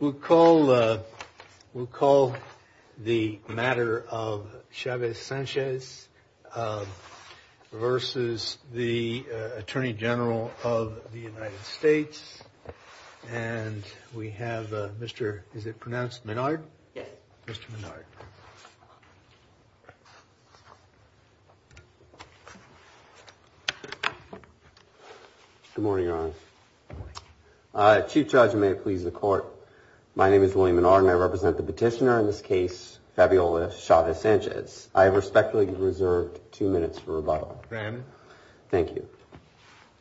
We'll call the matter of Chavez-Sanchez versus the Attorney General of the United States. And we have Mr. is it pronounced Menard? Yes. Mr. Menard. Good morning, Your Honor. Chief Judge, and may it please the court, my name is William Menard and I represent the petitioner in this case, Fabiola Chavez-Sanchez. I respectfully reserve two minutes for rebuttal. Thank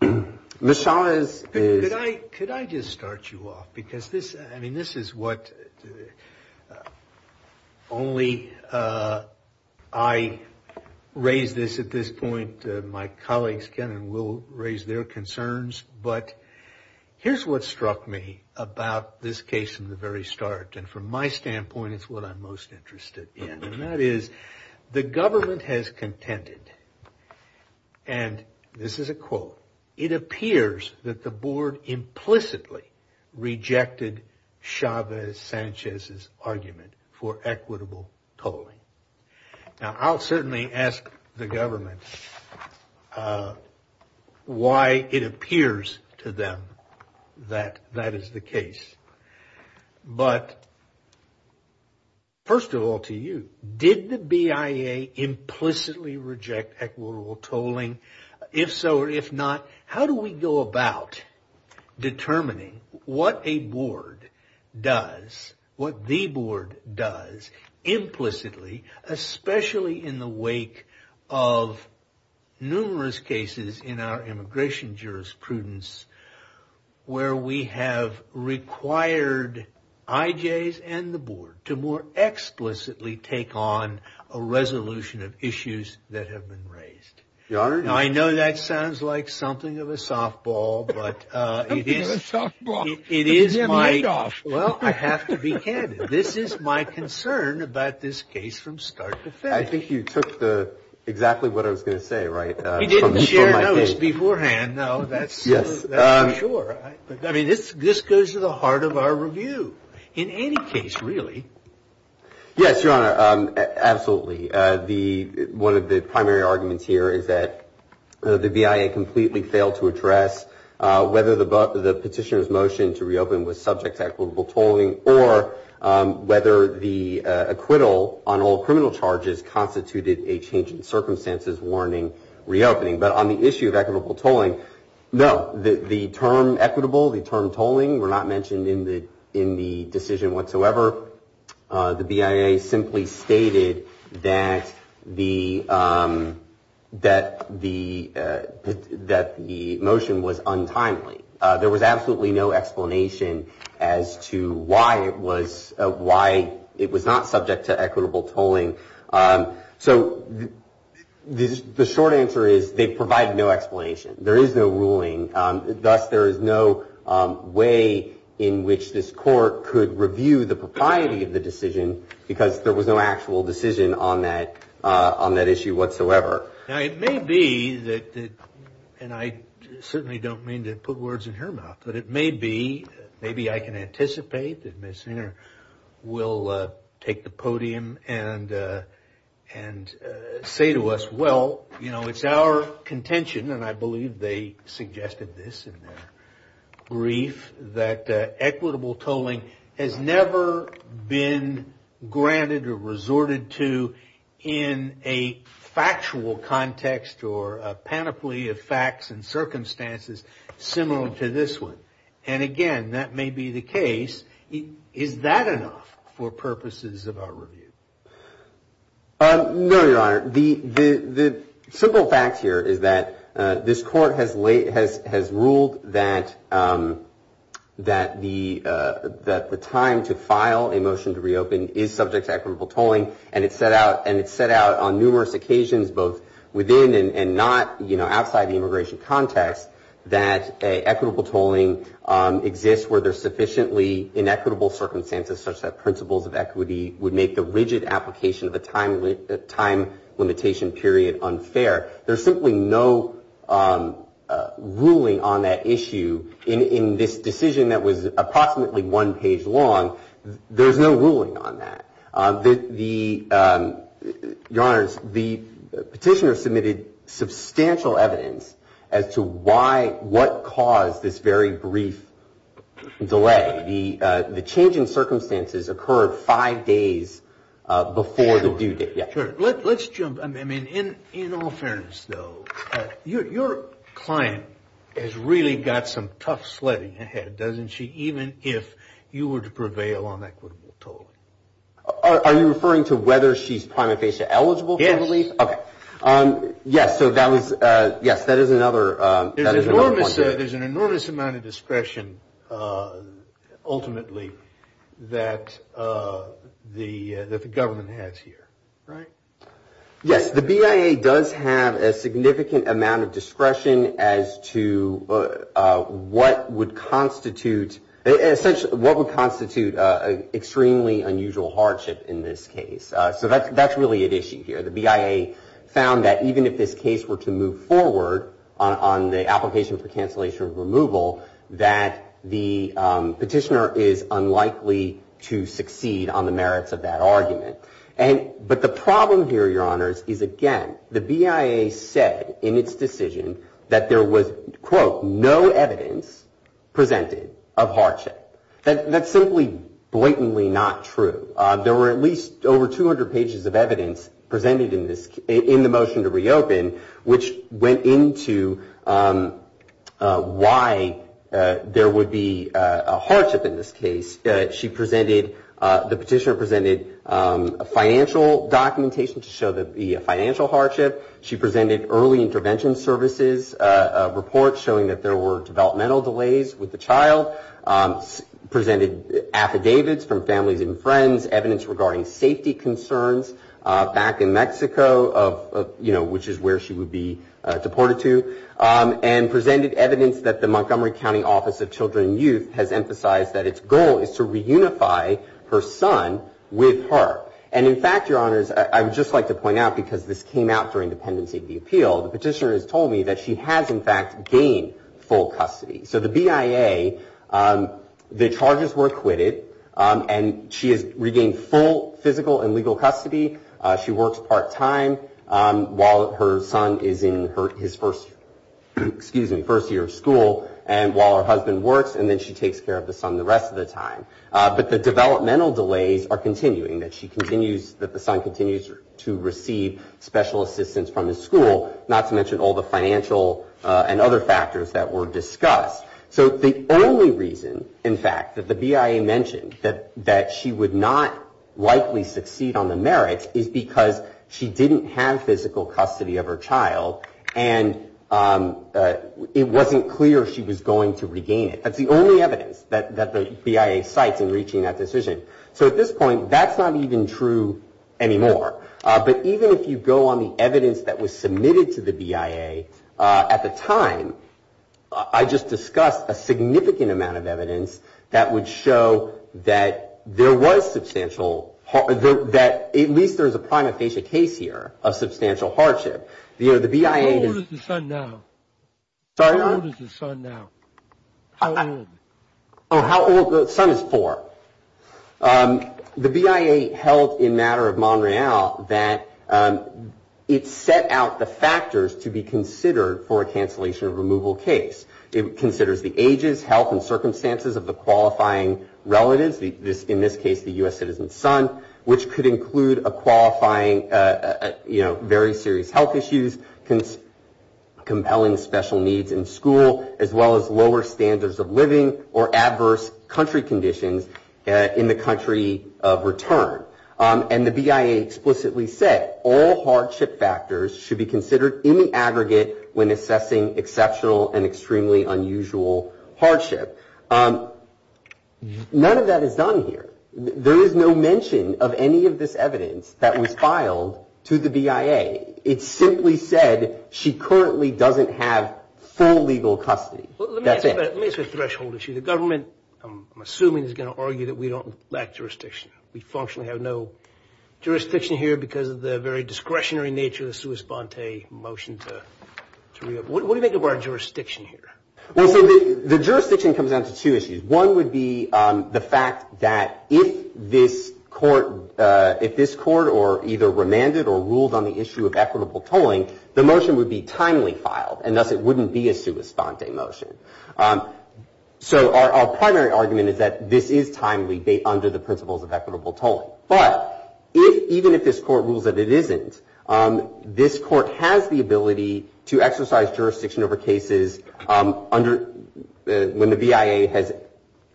you. Ms. Chavez-Sanchez. Could I just start you off? Because this, I mean, this is what only I raise this at this point, my colleagues can and will raise their concerns. But here's what struck me about this case in the very start. And from my standpoint, it's what I'm most interested in. And that is the government has contended, and this is a quote, it appears that the board implicitly rejected Chavez-Sanchez's argument for equitable tolling. Now, I'll certainly ask the government why it appears to them that that is the case. But first of all, to you, did the BIA implicitly reject equitable tolling? If so, or if not, how do we go about determining what a board does, what the board does implicitly, especially in the wake of numerous cases in our immigration jurisprudence where we have required IJs and the board to more explicitly take on a resolution of issues that have been raised? Your Honor, I know that sounds like something of a softball, but it is softball. It is my job. Well, I have to be candid. This is my concern about this case from start to finish. I think you took the exactly what I was going to say, right? He didn't share this beforehand. No, that's yes. Sure. I mean, this this goes to the heart of our review in any case, really. Yes, Your Honor. Absolutely. The one of the primary arguments here is that the BIA completely failed to address whether the petitioner's motion to reopen was subject to equitable tolling or whether the acquittal on all criminal charges constituted a change in circumstances warning reopening. But on the issue of equitable tolling, no, the term equitable, the term tolling were not mentioned in the in the decision whatsoever. The BIA simply stated that the that the that the motion was untimely. There was absolutely no explanation as to why it was why it was not subject to equitable tolling. So the short answer is they provide no explanation. There is no ruling. Thus, there is no way in which this court could review the propriety of the decision because there was no actual decision on that on that issue whatsoever. Now, it may be that and I certainly don't mean to put words in her mouth, but it may be maybe I can anticipate that Miss Singer will take the podium and and say to us, well, you know, it's our contention and I believe they suggested this in their brief that equitable tolling has never been granted or resorted to in a factual context or a panoply of facts and circumstances similar to this one. And again, that may be the case. Is that enough for purposes of our review? No, Your Honor, the the simple fact here is that this court has late has has ruled that that the that the time to file a motion to reopen is subject to equitable tolling and it's set out and it's set out on numerous occasions both within and not, you know, outside the immigration context that equitable tolling exists where there's sufficiently inequitable circumstances such that principles of equity would make the rigid assumption that equitable tolling is subject to equitable tolling. It's a rigid application of a time limit, a time limitation, period, unfair. There's simply no ruling on that issue in this decision that was approximately one page long. There's no ruling on that. The your honor's the petitioner submitted substantial evidence as to why what caused this very brief delay. The the change in circumstances occurred five days before the due date. Let's jump. I mean, in all fairness, though, your client has really got some tough sledding ahead, doesn't she? Even if you were to prevail on equitable tolling, are you referring to whether she's prima facie eligible? Yes. OK. Yes. So that was yes, that is another there's an enormous amount of discretion, ultimately, that the government has here. Right. Yes. The BIA does have a significant amount of discretion as to what would constitute essentially what would constitute extremely unusual hardship in this case. So that's really an issue here. The BIA found that even if this case were to move forward on the application for cancellation of removal, that the petitioner is unlikely to succeed on the merits of that argument. And but the problem here, your honors, is, again, the BIA said in its decision that there was, quote, no evidence presented of hardship. That's simply blatantly not true. There were at least over 200 pages of evidence presented in this in the motion to reopen, which went into why there would be a hardship in this case. She presented the petitioner presented a financial documentation to show that the financial hardship. She presented early intervention services report showing that there were developmental delays with the child. Presented affidavits from families and friends, evidence regarding safety concerns back in Mexico of, you know, which is where she would be deported to. And presented evidence that the Montgomery County Office of Children and Youth has emphasized that its goal is to reunify her son with her. And in fact, your honors, I would just like to point out, because this came out during the pendency of the appeal, the petitioner has told me that she has, in fact, gained full custody. So the BIA, the charges were acquitted and she has regained full physical and legal custody. She works part time while her son is in his first, excuse me, first year of school. And while her husband works and then she takes care of the son the rest of the time. But the developmental delays are continuing, that she continues, that the son continues to receive special assistance from his school. Not to mention all the financial and other factors that were discussed. So the only reason, in fact, that the BIA mentioned that she would not likely succeed on the merits is because she didn't have physical custody of her child. And it wasn't clear she was going to regain it. That's the only evidence that the BIA cites in reaching that decision. So at this point, that's not even true anymore. But even if you go on the evidence that was submitted to the BIA at the time, I just discussed a significant amount of evidence that would show that there was substantial, that at least there is a prima facie case here of substantial hardship. You know, the BIA. How old is the son now? Sorry, what? How old is the son now? How old? Oh, how old, the son is four. The BIA held in matter of Montreal that it set out the factors to be considered for a cancellation or removal case. It considers the ages, health, and circumstances of the qualifying relatives, in this case, the U.S. citizen's son, which could include a qualifying, you know, very serious health issues, compelling special needs in school, as well as lower standards of living or adverse country conditions in the country of return. And the BIA explicitly said all hardship factors should be considered in the aggregate when assessing exceptional and extremely unusual hardship. None of that is done here. There is no mention of any of this evidence that was filed to the BIA. It simply said she currently doesn't have full legal custody. Let me ask you a threshold issue. The government, I'm assuming, is going to argue that we don't lack jurisdiction. We functionally have no jurisdiction here because of the very discretionary nature of the sua sponte motion to reopen. What do you make of our jurisdiction here? Well, so the jurisdiction comes down to two issues. One would be the fact that if this court or either remanded or ruled on the issue of equitable tolling, the motion would be timely filed, and thus it wouldn't be a sua sponte motion. So our primary argument is that this is timely under the principles of equitable tolling. But even if this court rules that it isn't, this court has the ability to exercise jurisdiction over cases when the BIA has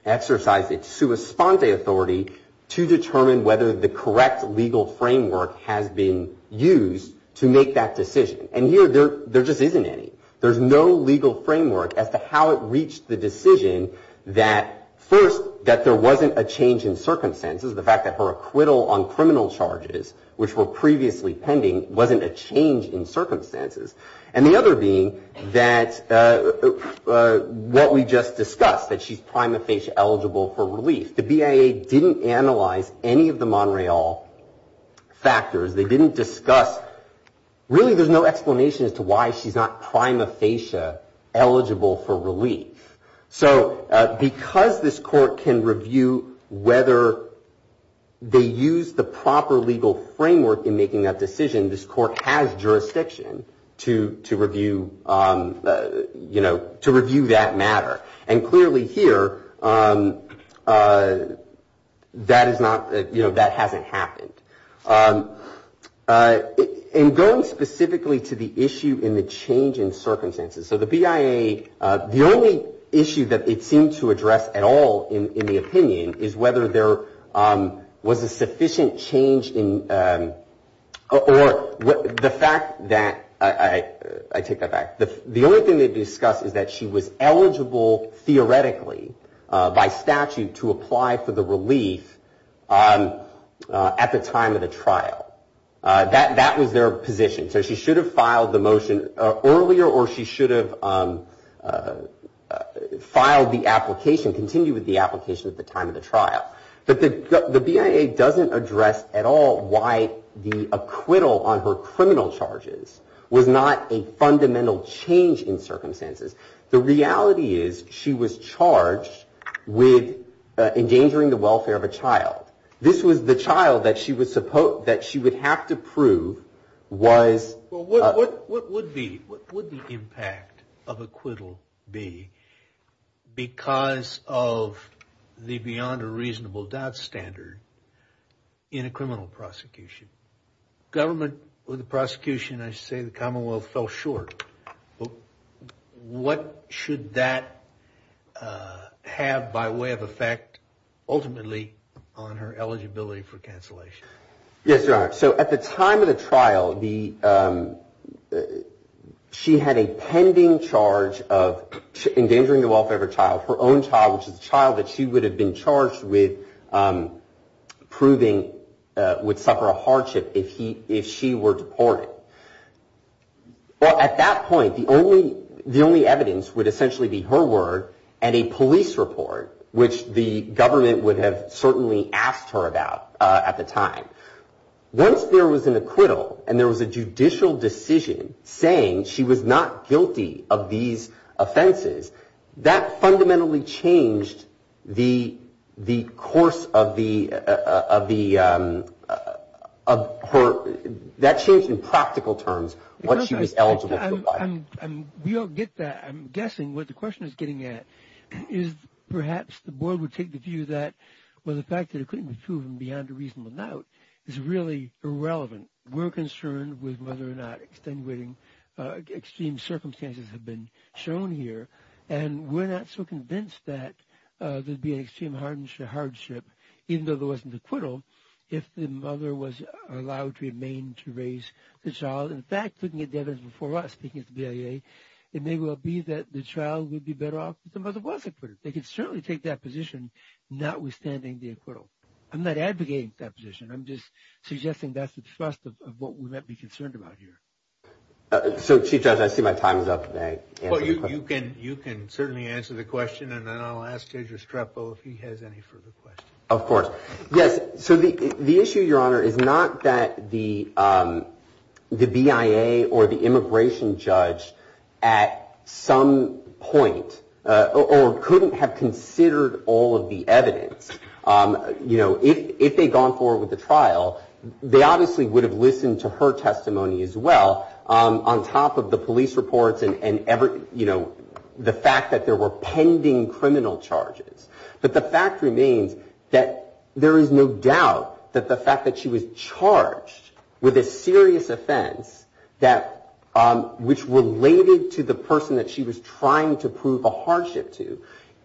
exercised its sua sponte authority to determine whether the correct legal framework has been used to make that decision. And here there just isn't any. There's no legal framework as to how it reached the decision that first, that there wasn't a change in circumstances. The fact that her acquittal on criminal charges, which were previously pending, wasn't a change in circumstances. And the other being that what we just discussed, that she's prima facie eligible for relief. The BIA didn't analyze any of the Montreal factors. They didn't discuss, really there's no explanation as to why she's not prima facie eligible for relief. So because this court can review whether they use the proper legal framework in making that decision, this court has jurisdiction to review that matter. And clearly here, that is not, that hasn't happened. In going specifically to the issue in the change in circumstances. So the BIA, the only issue that it seemed to address at all in the opinion is whether there was a sufficient change in, or the fact that, I take that back. The only thing they discussed is that she was eligible theoretically by statute to apply for the relief at the time of the trial. That was their position. So she should have filed the motion earlier or she should have filed the application, continued with the application at the time of the trial. But the BIA doesn't address at all why the acquittal on her criminal charges was not a fundamental change in circumstances. The reality is she was charged with endangering the welfare of a child. This was the child that she would have to prove was. What would be, what would the impact of acquittal be because of the beyond a reasonable doubt standard in a criminal prosecution? Government with the prosecution, I say the commonwealth fell short. What should that have by way of effect ultimately on her eligibility for cancellation? Yes. So at the time of the trial, the she had a pending charge of endangering the welfare of her child, her own child, which is a child that she would have been charged with proving would suffer a hardship if he if she were deported. Well, at that point, the only the only evidence would essentially be her word and a police report, which the government would have certainly asked her about at the time. Once there was an acquittal and there was a judicial decision saying she was not guilty of these offenses, that fundamentally changed the the course of the of the of her. That changed in practical terms what she was eligible to buy and we don't get that. I'm guessing what the question is getting at is perhaps the board would take the view that, well, the fact that it couldn't be proven beyond a reasonable doubt is really irrelevant. We're concerned with whether or not extenuating extreme circumstances have been shown here. And we're not so convinced that there'd be an extreme hardship, even though there wasn't an acquittal, if the mother was allowed to remain to raise the child. In fact, looking at the evidence before us, speaking at the BIA, it may well be that the child would be better off if the mother was acquitted. They could certainly take that position, notwithstanding the acquittal. I'm not advocating that position. I'm just suggesting that's the thrust of what we might be concerned about here. So, Chief Judge, I see my time is up, but you can you can certainly answer the question and then I'll ask Judge Restrepo if he has any further questions. Of course. Yes. So the the issue, Your Honor, is not that the the BIA or the immigration judge at some point or couldn't have considered all of the evidence. You know, if they'd gone forward with the trial, they obviously would have listened to her testimony as well on top of the police reports and, you know, the fact that there were pending criminal charges. But the fact remains that there is no doubt that the fact that she was charged with a serious offense that which related to the person that she was trying to prove a hardship to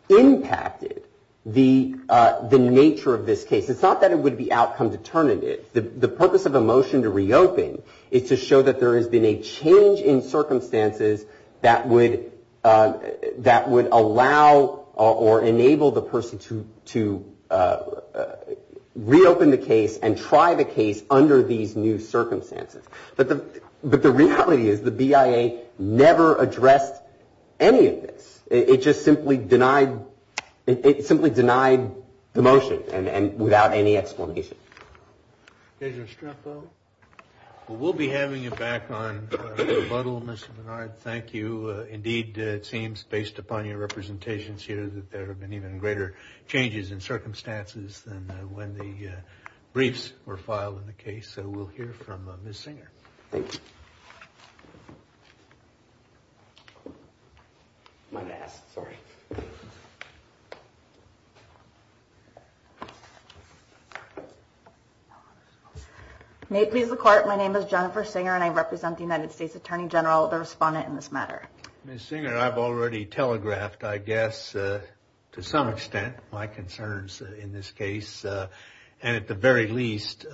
impacted the the nature of this case. It's not that it would be outcome determinative. The purpose of a motion to reopen is to show that there has been a change in circumstances that would that would allow or enable the person to to reopen the case and try the case under these new circumstances. But the but the reality is the BIA never addressed any of this. It just simply denied it simply denied the motion and without any explanation. Judge Restrepo, we'll be having you back on rebuttal, Mr. Menard, thank you. Indeed, it seems based upon your representations here that there have been even greater changes in circumstances than when the briefs were filed in the case. So we'll hear from Ms. May please the court. My name is Jennifer Singer and I represent the United States Attorney General. The respondent in this matter, Ms. Singer, I've already telegraphed, I guess, to some extent, my concerns in this case and at the very least,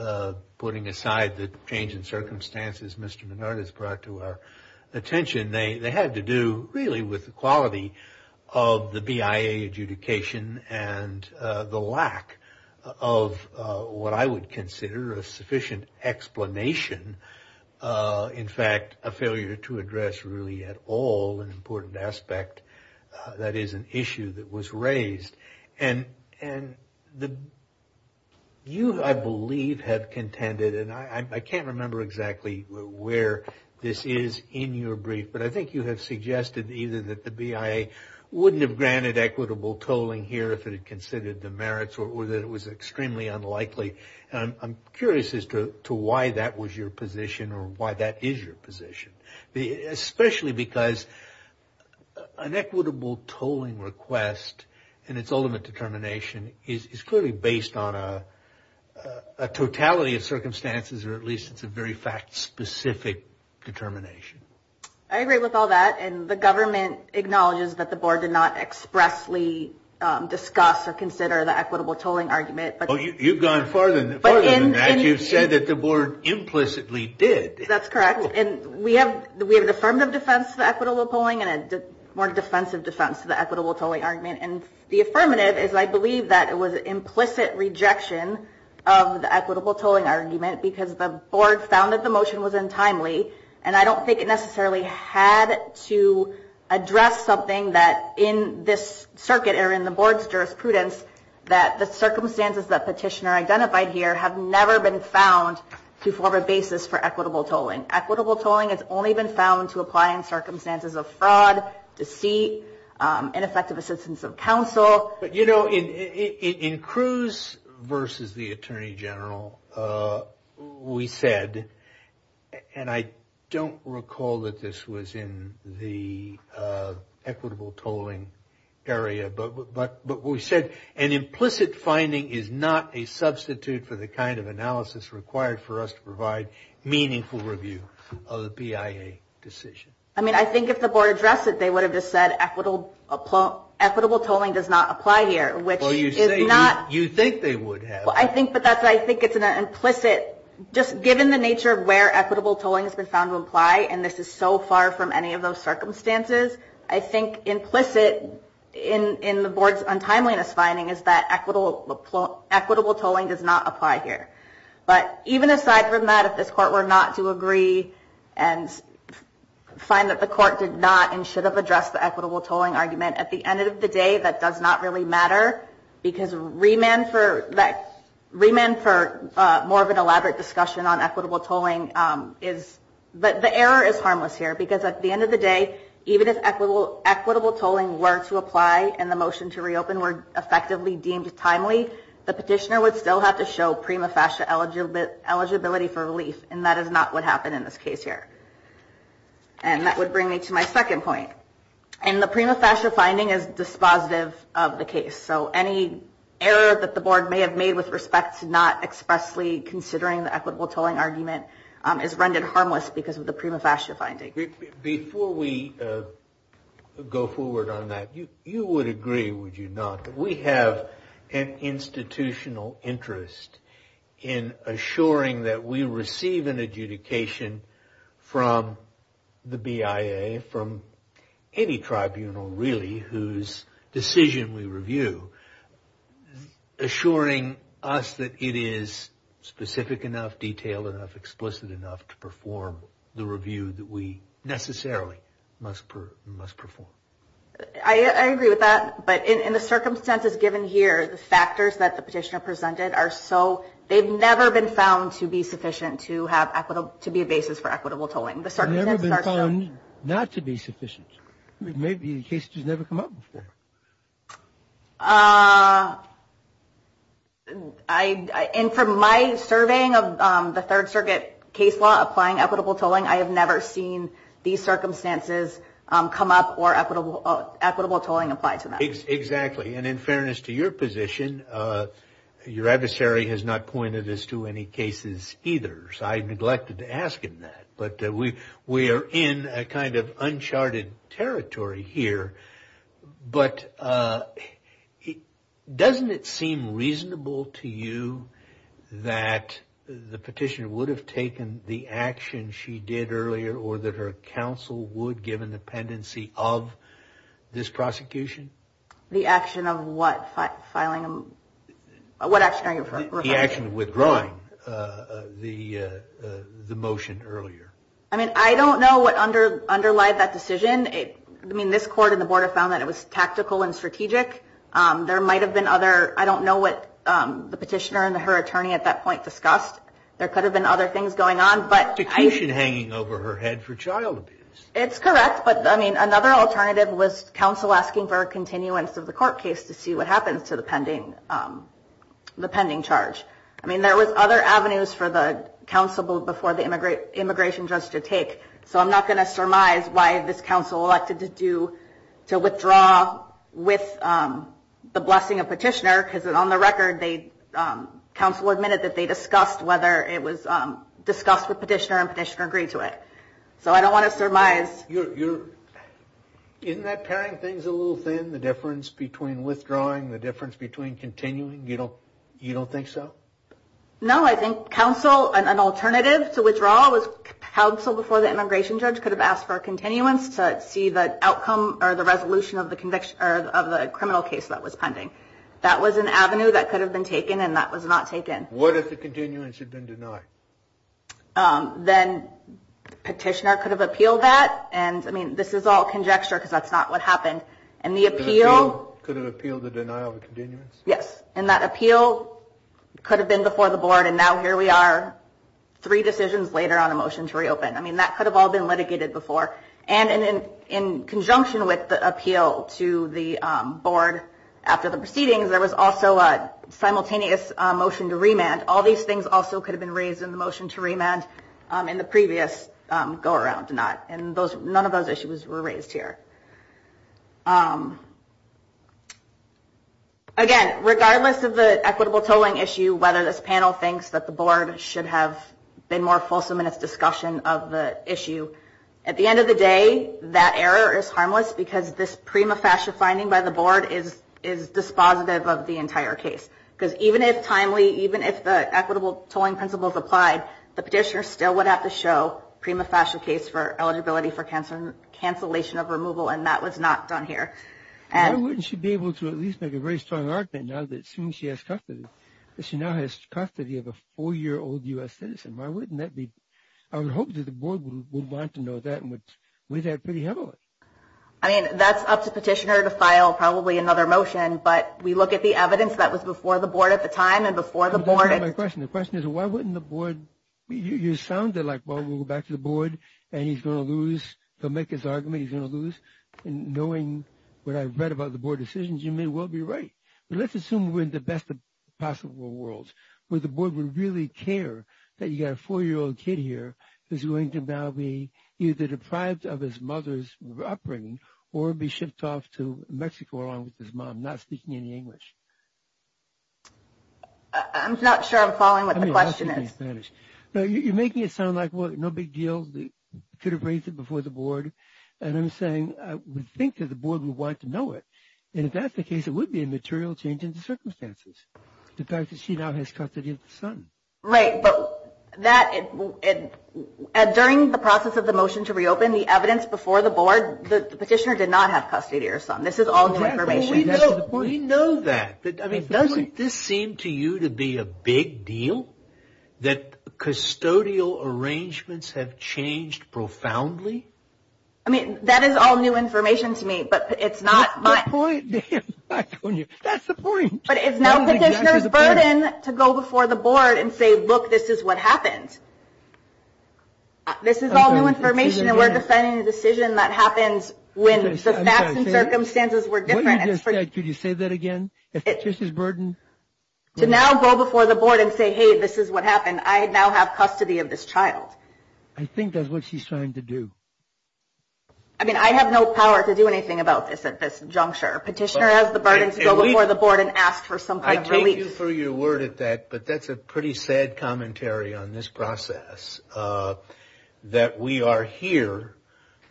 putting aside the change in circumstances, Mr. Menard has brought to our attention. They had to do really with the quality of the BIA adjudication and the lack of what I would consider a sufficient explanation. In fact, a failure to address really at all an important aspect that is an issue that was raised. And you, I believe, have contended, and I can't remember exactly where this is in your brief, but I think you have suggested either that the BIA wouldn't have granted equitable tolling here if it had considered the merits or that it was extremely unlikely. I'm curious as to why that was your position or why that is your position, especially because an equitable tolling request, and its ultimate determination is clearly based on a totality of circumstances, or at least it's a very fact-specific determination. I agree with all that. And the government acknowledges that the board did not expressly discuss or consider the equitable tolling argument. But you've gone farther than that. You've said that the board implicitly did. That's correct. And we have an affirmative defense to the equitable tolling and a more defensive defense to the equitable tolling argument. And the affirmative is I believe that it was implicit rejection of the equitable tolling argument because the board found that the motion was untimely. And I don't think it necessarily had to address something that in this circuit or in the board's jurisprudence that the circumstances that petitioner identified here have never been found to form a basis for equitable tolling. Equitable tolling has only been found to apply in circumstances of fraud, deceit, ineffective assistance of counsel. But you know, in Cruz versus the Attorney General, we said, and I don't recall that this was in the equitable tolling area. But what we said, an implicit finding is not a substitute for the kind of analysis required for us to provide meaningful review of the BIA decision. I mean, I think if the board addressed it, they would have just said equitable tolling does not apply here, which is not. You think they would have. Well, I think, but that's what I think. It's an implicit, just given the nature of where equitable tolling has been found to apply. And this is so far from any of those circumstances. I think implicit in the board's untimeliness finding is that equitable tolling does not apply here. But even aside from that, if this court were not to agree and find that the court did not and should have addressed the equitable tolling argument at the end of the day, that does not really matter because remand for more of an elaborate discussion on equitable tolling is, but the error is that even if equitable tolling were to apply and the motion to reopen were effectively deemed timely, the petitioner would still have to show prima fascia eligibility for relief. And that is not what happened in this case here. And that would bring me to my second point, and the prima fascia finding is dispositive of the case. So any error that the board may have made with respect to not expressly considering the equitable tolling argument is rendered harmless because of the prima fascia finding. Before we go forward on that, you would agree, would you not, that we have an institutional interest in assuring that we receive an adjudication from the BIA, from any tribunal really, whose decision we review, assuring us that it is specific enough, detailed enough, explicit enough to perform the review that we necessarily must perform? I agree with that. But in the circumstances given here, the factors that the petitioner presented are so, they've never been found to be sufficient to have equitable, to be a basis for equitable tolling. They've never been found not to be sufficient. Maybe the case has never come up before. And from my surveying of the Third Circuit case law, applying equitable tolling, I have never seen these circumstances come up or equitable tolling applied to that. Exactly. And in fairness to your position, your adversary has not pointed this to any cases either. So I neglected to ask him that. But we are in a kind of uncharted territory here. But doesn't it seem reasonable to you that the petitioner would have taken the action she did earlier or that her counsel would, given the pendency of this prosecution? The action of what? What action are you referring to? The action of withdrawing the motion earlier. I mean, I don't know what underlied that decision. I mean, this court and the board have found that it was tactical and strategic. There might have been other, I don't know what the petitioner and her attorney at that point discussed. There could have been other things going on. But prosecution hanging over her head for child abuse. It's correct. But I mean, another alternative was counsel asking for a continuance of the court case to see what happens to the pending, the pending charge. I mean, there was other avenues for the counsel before the immigration judge to take. So I'm not going to surmise why this counsel elected to do, to withdraw with the blessing of petitioner, because on the record, they counsel admitted that they discussed whether it was discussed with petitioner and petitioner agreed to it. So I don't want to surmise. Isn't that pairing things a little thin, the difference between withdrawing, the difference between continuing? You don't you don't think so? No, I think counsel and an alternative to withdraw was counsel before the immigration judge could have asked for a continuance to see the outcome or the resolution of the conviction of the criminal case that was pending. That was an avenue that could have been taken and that was not taken. What if the continuance had been denied? Then petitioner could have appealed that. And I mean, this is all conjecture because that's not what happened. And the appeal could have appealed the denial of a continuance. Yes. And that appeal could have been before the board. And now here we are, three decisions later on a motion to reopen. I mean, that could have all been litigated before. And in conjunction with the appeal to the board after the proceedings, there was also a simultaneous motion to remand. All these things also could have been raised in the motion to remand in the previous go around and none of those issues were raised here. Again, regardless of the equitable tolling issue, whether this panel thinks that the board should have been more fulsome in its discussion of the issue. At the end of the day, that error is harmless because this prima facie finding by the board is dispositive of the entire case. Because even if timely, even if the equitable tolling principles applied, the petitioner still would have to show prima facie case for eligibility for cancellation of removal. And that was not done here. And wouldn't she be able to at least make a very strong argument now that soon she has custody, that she now has custody of a four year old U.S. citizen? Why wouldn't that be? I would hope that the board would want to know that and would weigh that pretty heavily. I mean, that's up to petitioner to file probably another motion. But we look at the evidence that was before the board at the time and before the board. My question, the question is, why wouldn't the board, you sounded like, well, we'll go back to the board and he's going to lose, he'll make his argument, he's going to lose. And knowing what I've read about the board decisions, you may well be right. But let's assume we're in the best possible world where the board would really care that you got a four year old kid here who's going to now be either deprived of his mother's upbringing or be shipped off to Mexico along with his mom, not speaking any English. I'm not sure I'm following what the question is. No, you're making it sound like, well, no big deal, could have raised it before the board. And I'm saying I would think that the board would want to know it. And if that's the case, it would be a material change in the circumstances. The fact that she now has custody of the son. Right. But that during the process of the motion to reopen the evidence before the board, the petitioner did not have custody of her son. This is all new information. We know that. But I mean, doesn't this seem to you to be a big deal that custodial arrangements have changed profoundly? I mean, that is all new information to me, but it's not my point. That's the point. But it's now the burden to go before the board and say, look, this is what happened. This is all new information and we're defining a decision that happens when the facts and circumstances were different. Could you say that again? It's just his burden. To now go before the board and say, hey, this is what happened. I now have custody of this child. I think that's what she's trying to do. I mean, I have no power to do anything about this at this juncture. Petitioner has the burden to go before the board and ask for some kind of relief. I take you for your word at that, but that's a pretty sad commentary on this process that we are here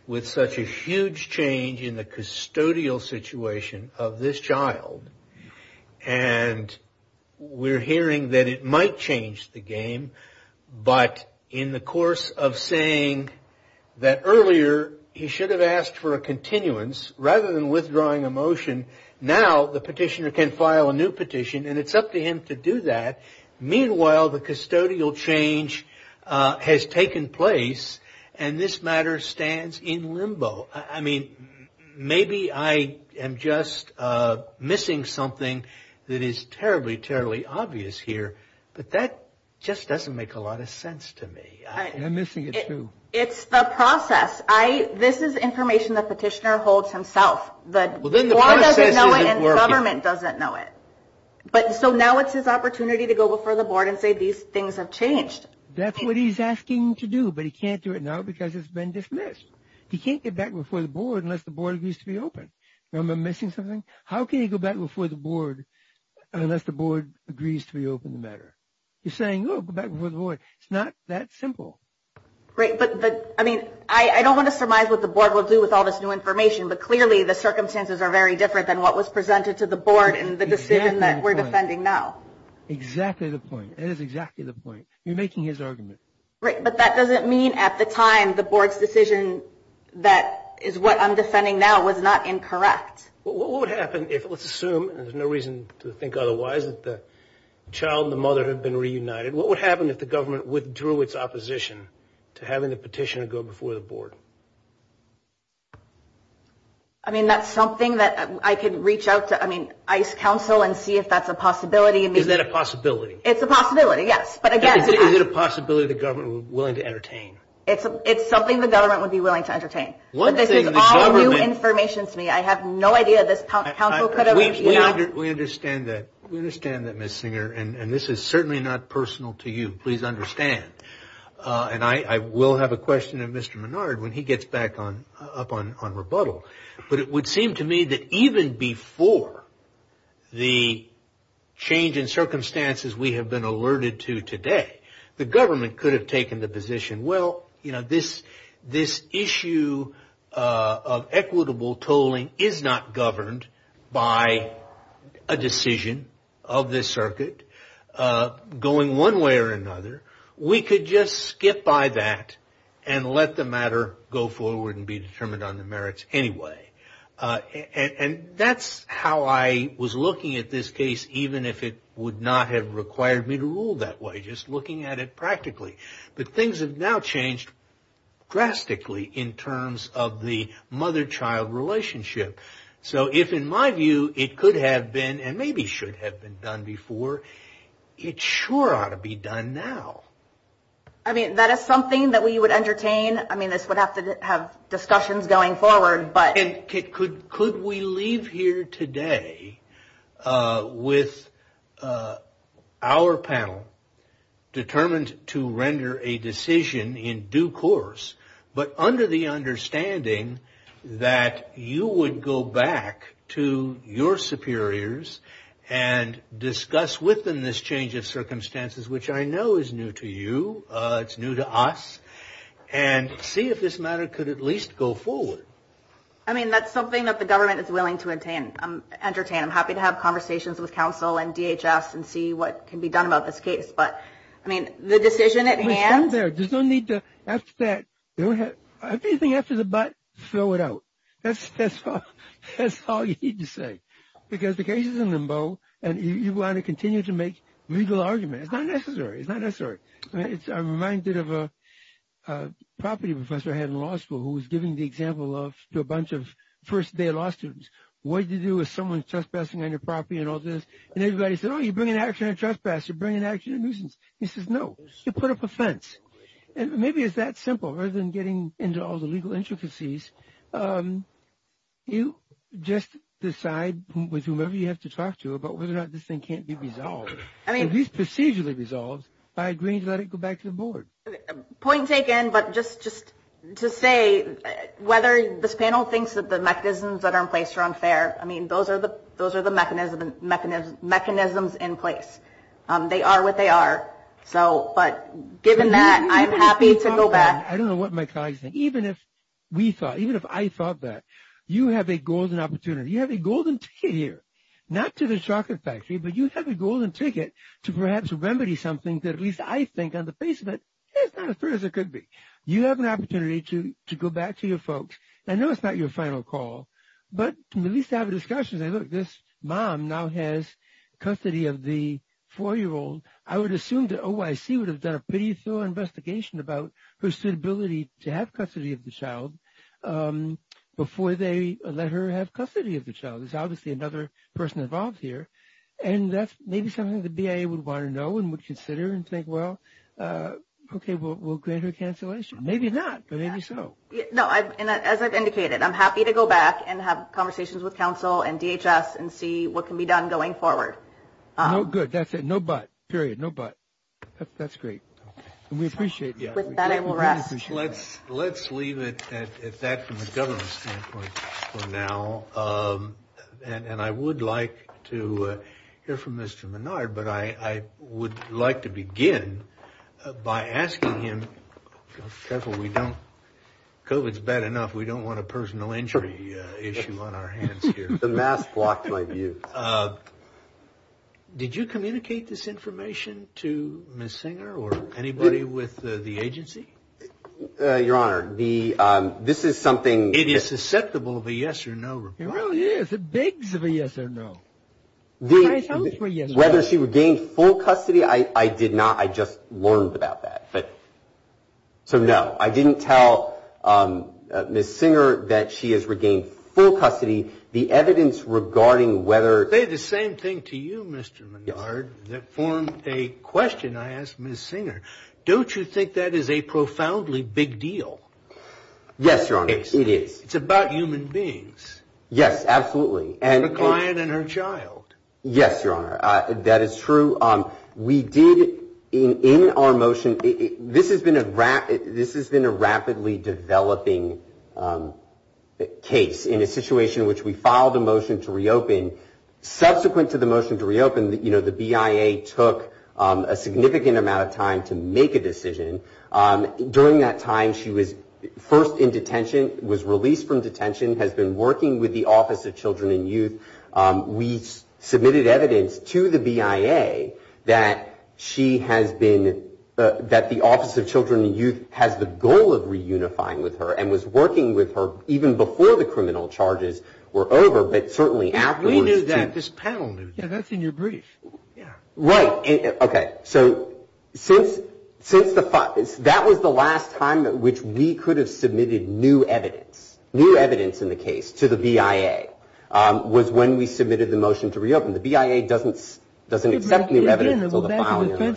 with such a huge change in the custodial situation of this child. And we're hearing that it might change the game. But in the course of saying that earlier, he should have asked for a continuance rather than withdrawing a motion. Now the petitioner can file a new petition and it's up to him to do that. Meanwhile, the custodial change has taken place and this matter stands in limbo. I mean, maybe I am just missing something that is terribly, terribly obvious here. But that just doesn't make a lot of sense to me. I'm missing it too. It's the process. This is information the petitioner holds himself. The board doesn't know it and the government doesn't know it. But so now it's his opportunity to go before the board and say these things have changed. That's what he's asking to do. But he can't do it now because it's been dismissed. He can't get back before the board unless the board agrees to be open. Remember I'm missing something? How can you go back before the board unless the board agrees to reopen the matter? You're saying, oh, go back before the board. It's not that simple. Great. But I mean, I don't want to surmise what the board will do with all this new information. But clearly the circumstances are very different than what was presented to the board in the decision that we're defending now. Exactly the point. That is exactly the point. You're making his argument. But that doesn't mean at the time the board's decision that is what I'm defending now was not incorrect. What would happen if, let's assume there's no reason to think otherwise, that the child and the mother had been reunited? What would happen if the government withdrew its opposition to having the petitioner go before the board? I mean, that's something that I could reach out to ICE counsel and see if that's a possibility. Is that a possibility? It's a possibility, yes. But again, is it a possibility the government would be willing to entertain? It's something the government would be willing to entertain. But this is all new information to me. I have no idea this counsel could have reviewed. We understand that. We understand that, Ms. Singer. And this is certainly not personal to you. Please understand. And I will have a question of Mr. Menard when he gets back up on rebuttal. But it would seem to me that even before the change in circumstances we have been alerted to today, the government could have taken the position, well, you know, this issue of equitable tolling is not governed by a decision of this circuit going one way or another. We could just skip by that and let the matter go forward and be determined on the merits anyway. And that's how I was looking at this case, even if it would not have required me to rule that way, just looking at it practically. But things have now changed drastically in terms of the mother-child relationship. So if, in my view, it could have been and maybe should have been done before, it sure ought to be done now. I mean, that is something that we would entertain. I mean, this would have to have discussions going forward. But could we leave here today with our panel determined to render a decision in due course, but under the understanding that you would go back to your superiors and discuss within this change of circumstances, which I know is new to you, it's new to us, and see if this matter could at least go forward? I mean, that's something that the government is willing to entertain. I'm happy to have conversations with counsel and DHS and see what can be done about this case. But, I mean, the decision at hand... We stand there. There's no need to, after that, if anything after the but, throw it out. That's all you need to say, because the case is in limbo and you want to continue to make legal argument. It's not necessary. It's not necessary. I'm reminded of a property professor I had in law school who was giving the example of a bunch of first day law students. What do you do with someone trespassing on your property and all this? And everybody said, oh, you bring an action of trespass, you bring an action of nuisance. He says, no, you put up a fence. And maybe it's that simple, rather than getting into all the legal intricacies. You just decide with whomever you have to talk to about whether or not this thing can't be resolved, at least procedurally resolved, by agreeing to let it go back to the board. Point taken, but just to say whether this panel thinks that the mechanisms that are in place are unfair. I mean, those are the mechanisms in place. They are what they are. So but given that, I'm happy to go back. I don't know what my colleagues think. Even if we thought, even if I thought that you have a golden opportunity, you have a golden ticket here, not to the chocolate factory, but you have a golden ticket to perhaps remedy something that at least I think on the face of it is not as fair as it could be. You have an opportunity to to go back to your folks. I know it's not your final call, but at least have a discussion. Look, this mom now has custody of the four-year-old. I would assume the OIC would have done a pretty thorough investigation about her suitability to have custody of the child before they let her have custody of the child. There's obviously another person involved here. And that's maybe something the BIA would want to know and would consider and think, well, OK, we'll grant her cancellation. Maybe not, but maybe so. No, and as I've indicated, I'm happy to go back and have conversations with counsel and DHS and see what can be done going forward. No, good. That's it. No, but period. No, but that's great. We appreciate that. I will rest. Let's let's leave it at that from a government standpoint for now. And I would like to hear from Mr. Menard, but I would like to begin by asking him several. We don't go. It's bad enough. We don't want a personal injury issue on our hands here. The mask blocked my view. Did you communicate this information to Miss Singer or anybody with the agency? Your Honor, the this is something it is susceptible of a yes or no. It really is a big yes or no. The whether she regained full custody, I did not. I just learned about that. But so, no, I didn't tell Miss Singer that she has regained full custody. The evidence regarding whether the same thing to you, Mr. Menard, that formed a question, I asked Miss Singer, don't you think that is a profoundly big deal? Yes, Your Honor, it is. It's about human beings. Yes, absolutely. And the client and her child. Yes, Your Honor, that is true. We did in our motion. This has been a this has been a rapidly developing case in a situation in which we filed a motion to reopen. Subsequent to the motion to reopen, you know, the BIA took a significant amount of time to make a decision. During that time, she was first in detention, was released from detention, has been working with the Office of Children and Youth. We submitted evidence to the BIA that she has been that the Office of Children and Youth has the goal of reunifying with her and was working with her even before the criminal charges were over. But certainly after we knew that this panel that's in your brief. Yeah, right. OK, so since since the fact that was the last time which we could have submitted new evidence, new evidence in the case to the BIA was when we submitted the motion to reopen, the BIA doesn't doesn't accept new evidence until the filing. You're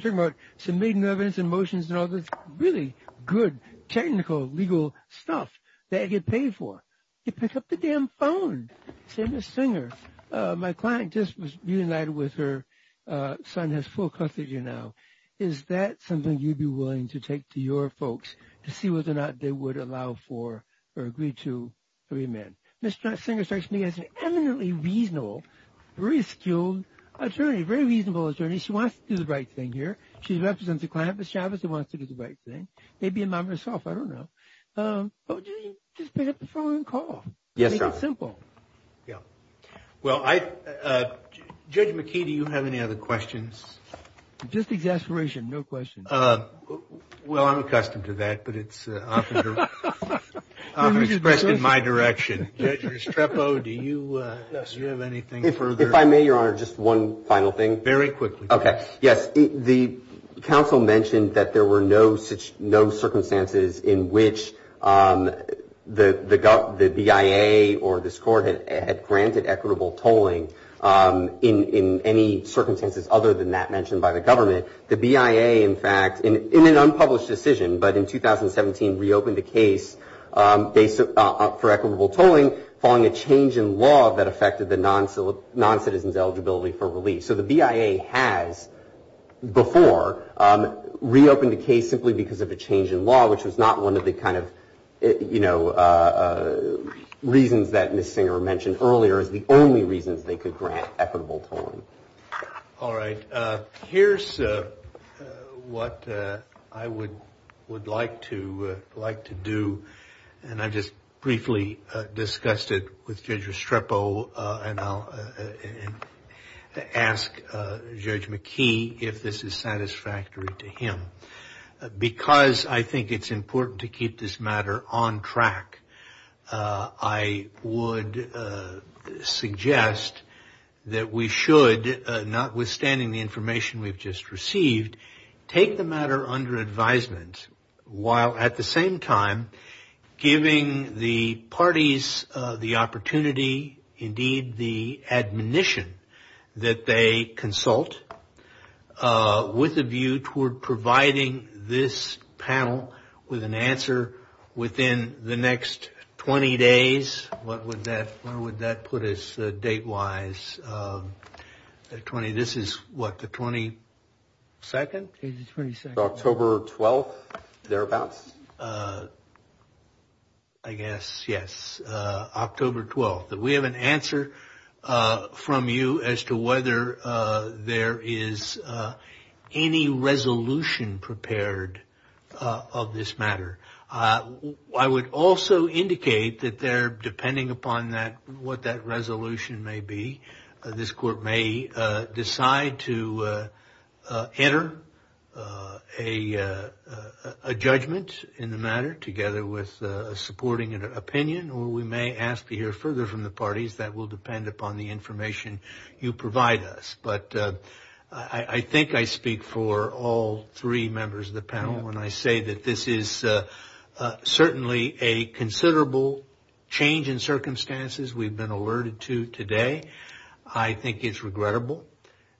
talking about submitting evidence and motions and all this really good technical legal stuff that I get paid for. You pick up the damn phone. Say, Ms. Singer, my client just reunited with her son, has full custody now. Is that something you'd be willing to take to your folks to see whether or not they would allow for or agree to remand? Ms. Singer strikes me as an eminently reasonable, very skilled attorney, very reasonable attorney. She wants to do the right thing here. She represents a client, Ms. Chavez, who wants to do the right thing. Maybe a mom herself, I don't know. But just pick up the phone and call. Yes, it's simple. Yeah. Well, Judge McKee, do you have any other questions? Just exasperation. No questions. Well, I'm accustomed to that, but it's often expressed in my direction. Judge Restrepo, do you have anything further? If I may, Your Honor, just one final thing. Very quickly. OK. Yes. The counsel mentioned that there were no such no circumstances in which the BIA or this court had granted equitable tolling in any circumstances other than that mentioned by the government. The BIA, in fact, in an unpublished decision, but in 2017, reopened the case for equitable tolling following a change in law that affected the non-citizen's eligibility for relief. So the BIA has before reopened the case simply because of a change in law, which was not one of the kind of, you know, reasons that Ms. Singer mentioned earlier as the only reasons they could grant equitable tolling. All right. Here's what I would would like to like to do. And I just briefly discussed it with Judge Restrepo. And I'll ask Judge McKee if this is satisfactory to him, because I think it's important to keep this matter on track. I would suggest that we should, notwithstanding the information we've just received, take the matter under advisement, while at the same time giving the parties the opportunity, indeed the admonition, that they consult with a view toward providing this panel with an answer within the next 20 days, what would that, where would that put us date-wise, the 20, this is what, the 22nd? October 12th, thereabouts. I guess, yes, October 12th, that we have an answer from you as to whether there is any resolution prepared of this matter. I would also indicate that there, depending upon what that resolution may be, this court may decide to enter a judgment. In the matter, together with supporting an opinion, or we may ask to hear further from the parties that will depend upon the information you provide us. But I think I speak for all three members of the panel when I say that this is certainly a considerable change in circumstances we've been alerted to today. I think it's regrettable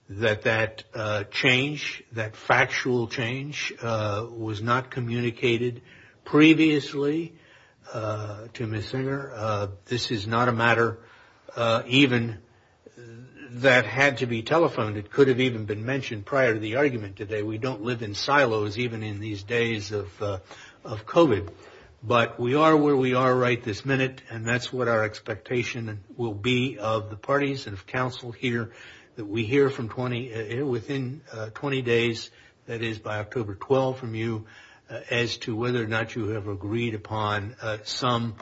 that that change, that factual change, was not communicated previously to Ms. Singer. This is not a matter even that had to be telephoned. It could have even been mentioned prior to the argument today. We don't live in silos even in these days of COVID. But we are where we are right this minute, and that's what our expectation will be of the parties and of counsel here that we hear from 20, within 20 days, that is by October 12th, from you, as to whether or not you have agreed upon some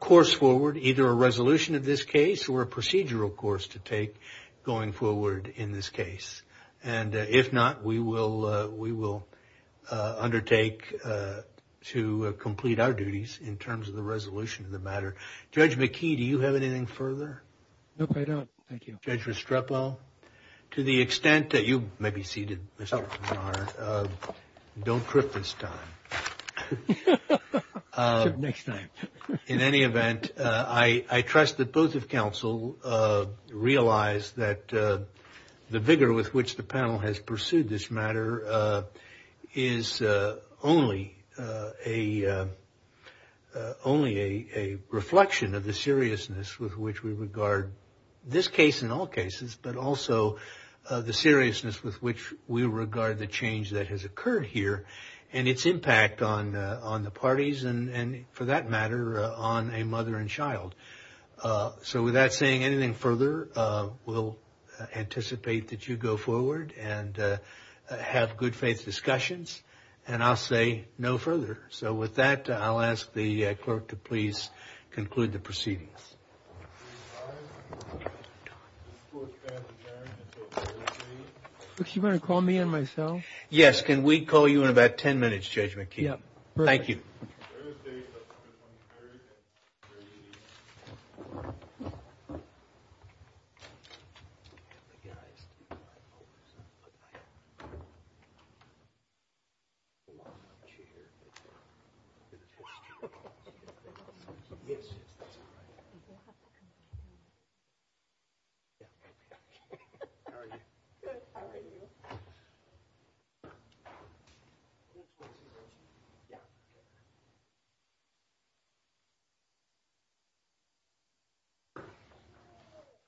course forward, either a resolution of this case or a procedural course to take going forward in this case. And if not, we will undertake to complete our duties in terms of the resolution of the matter. Judge McKee, do you have anything further? No, I don't. Thank you. Judge Restrepo, to the extent that you may be seated, don't trip this time. Next time. In any event, I trust that both of counsel realize that the vigor with which the panel has pursued this matter is only a reflection of the seriousness with which we regard this case in all cases, but also the seriousness with which we regard the change that has occurred here and its impact on the parties. And for that matter, on a mother and child. So without saying anything further, we'll anticipate that you go forward and have good faith discussions. And I'll say no further. So with that, I'll ask the clerk to please conclude the proceedings. You want to call me and myself? Yes. Can we call you in about 10 minutes, Judge McKee? Yeah. Thank you.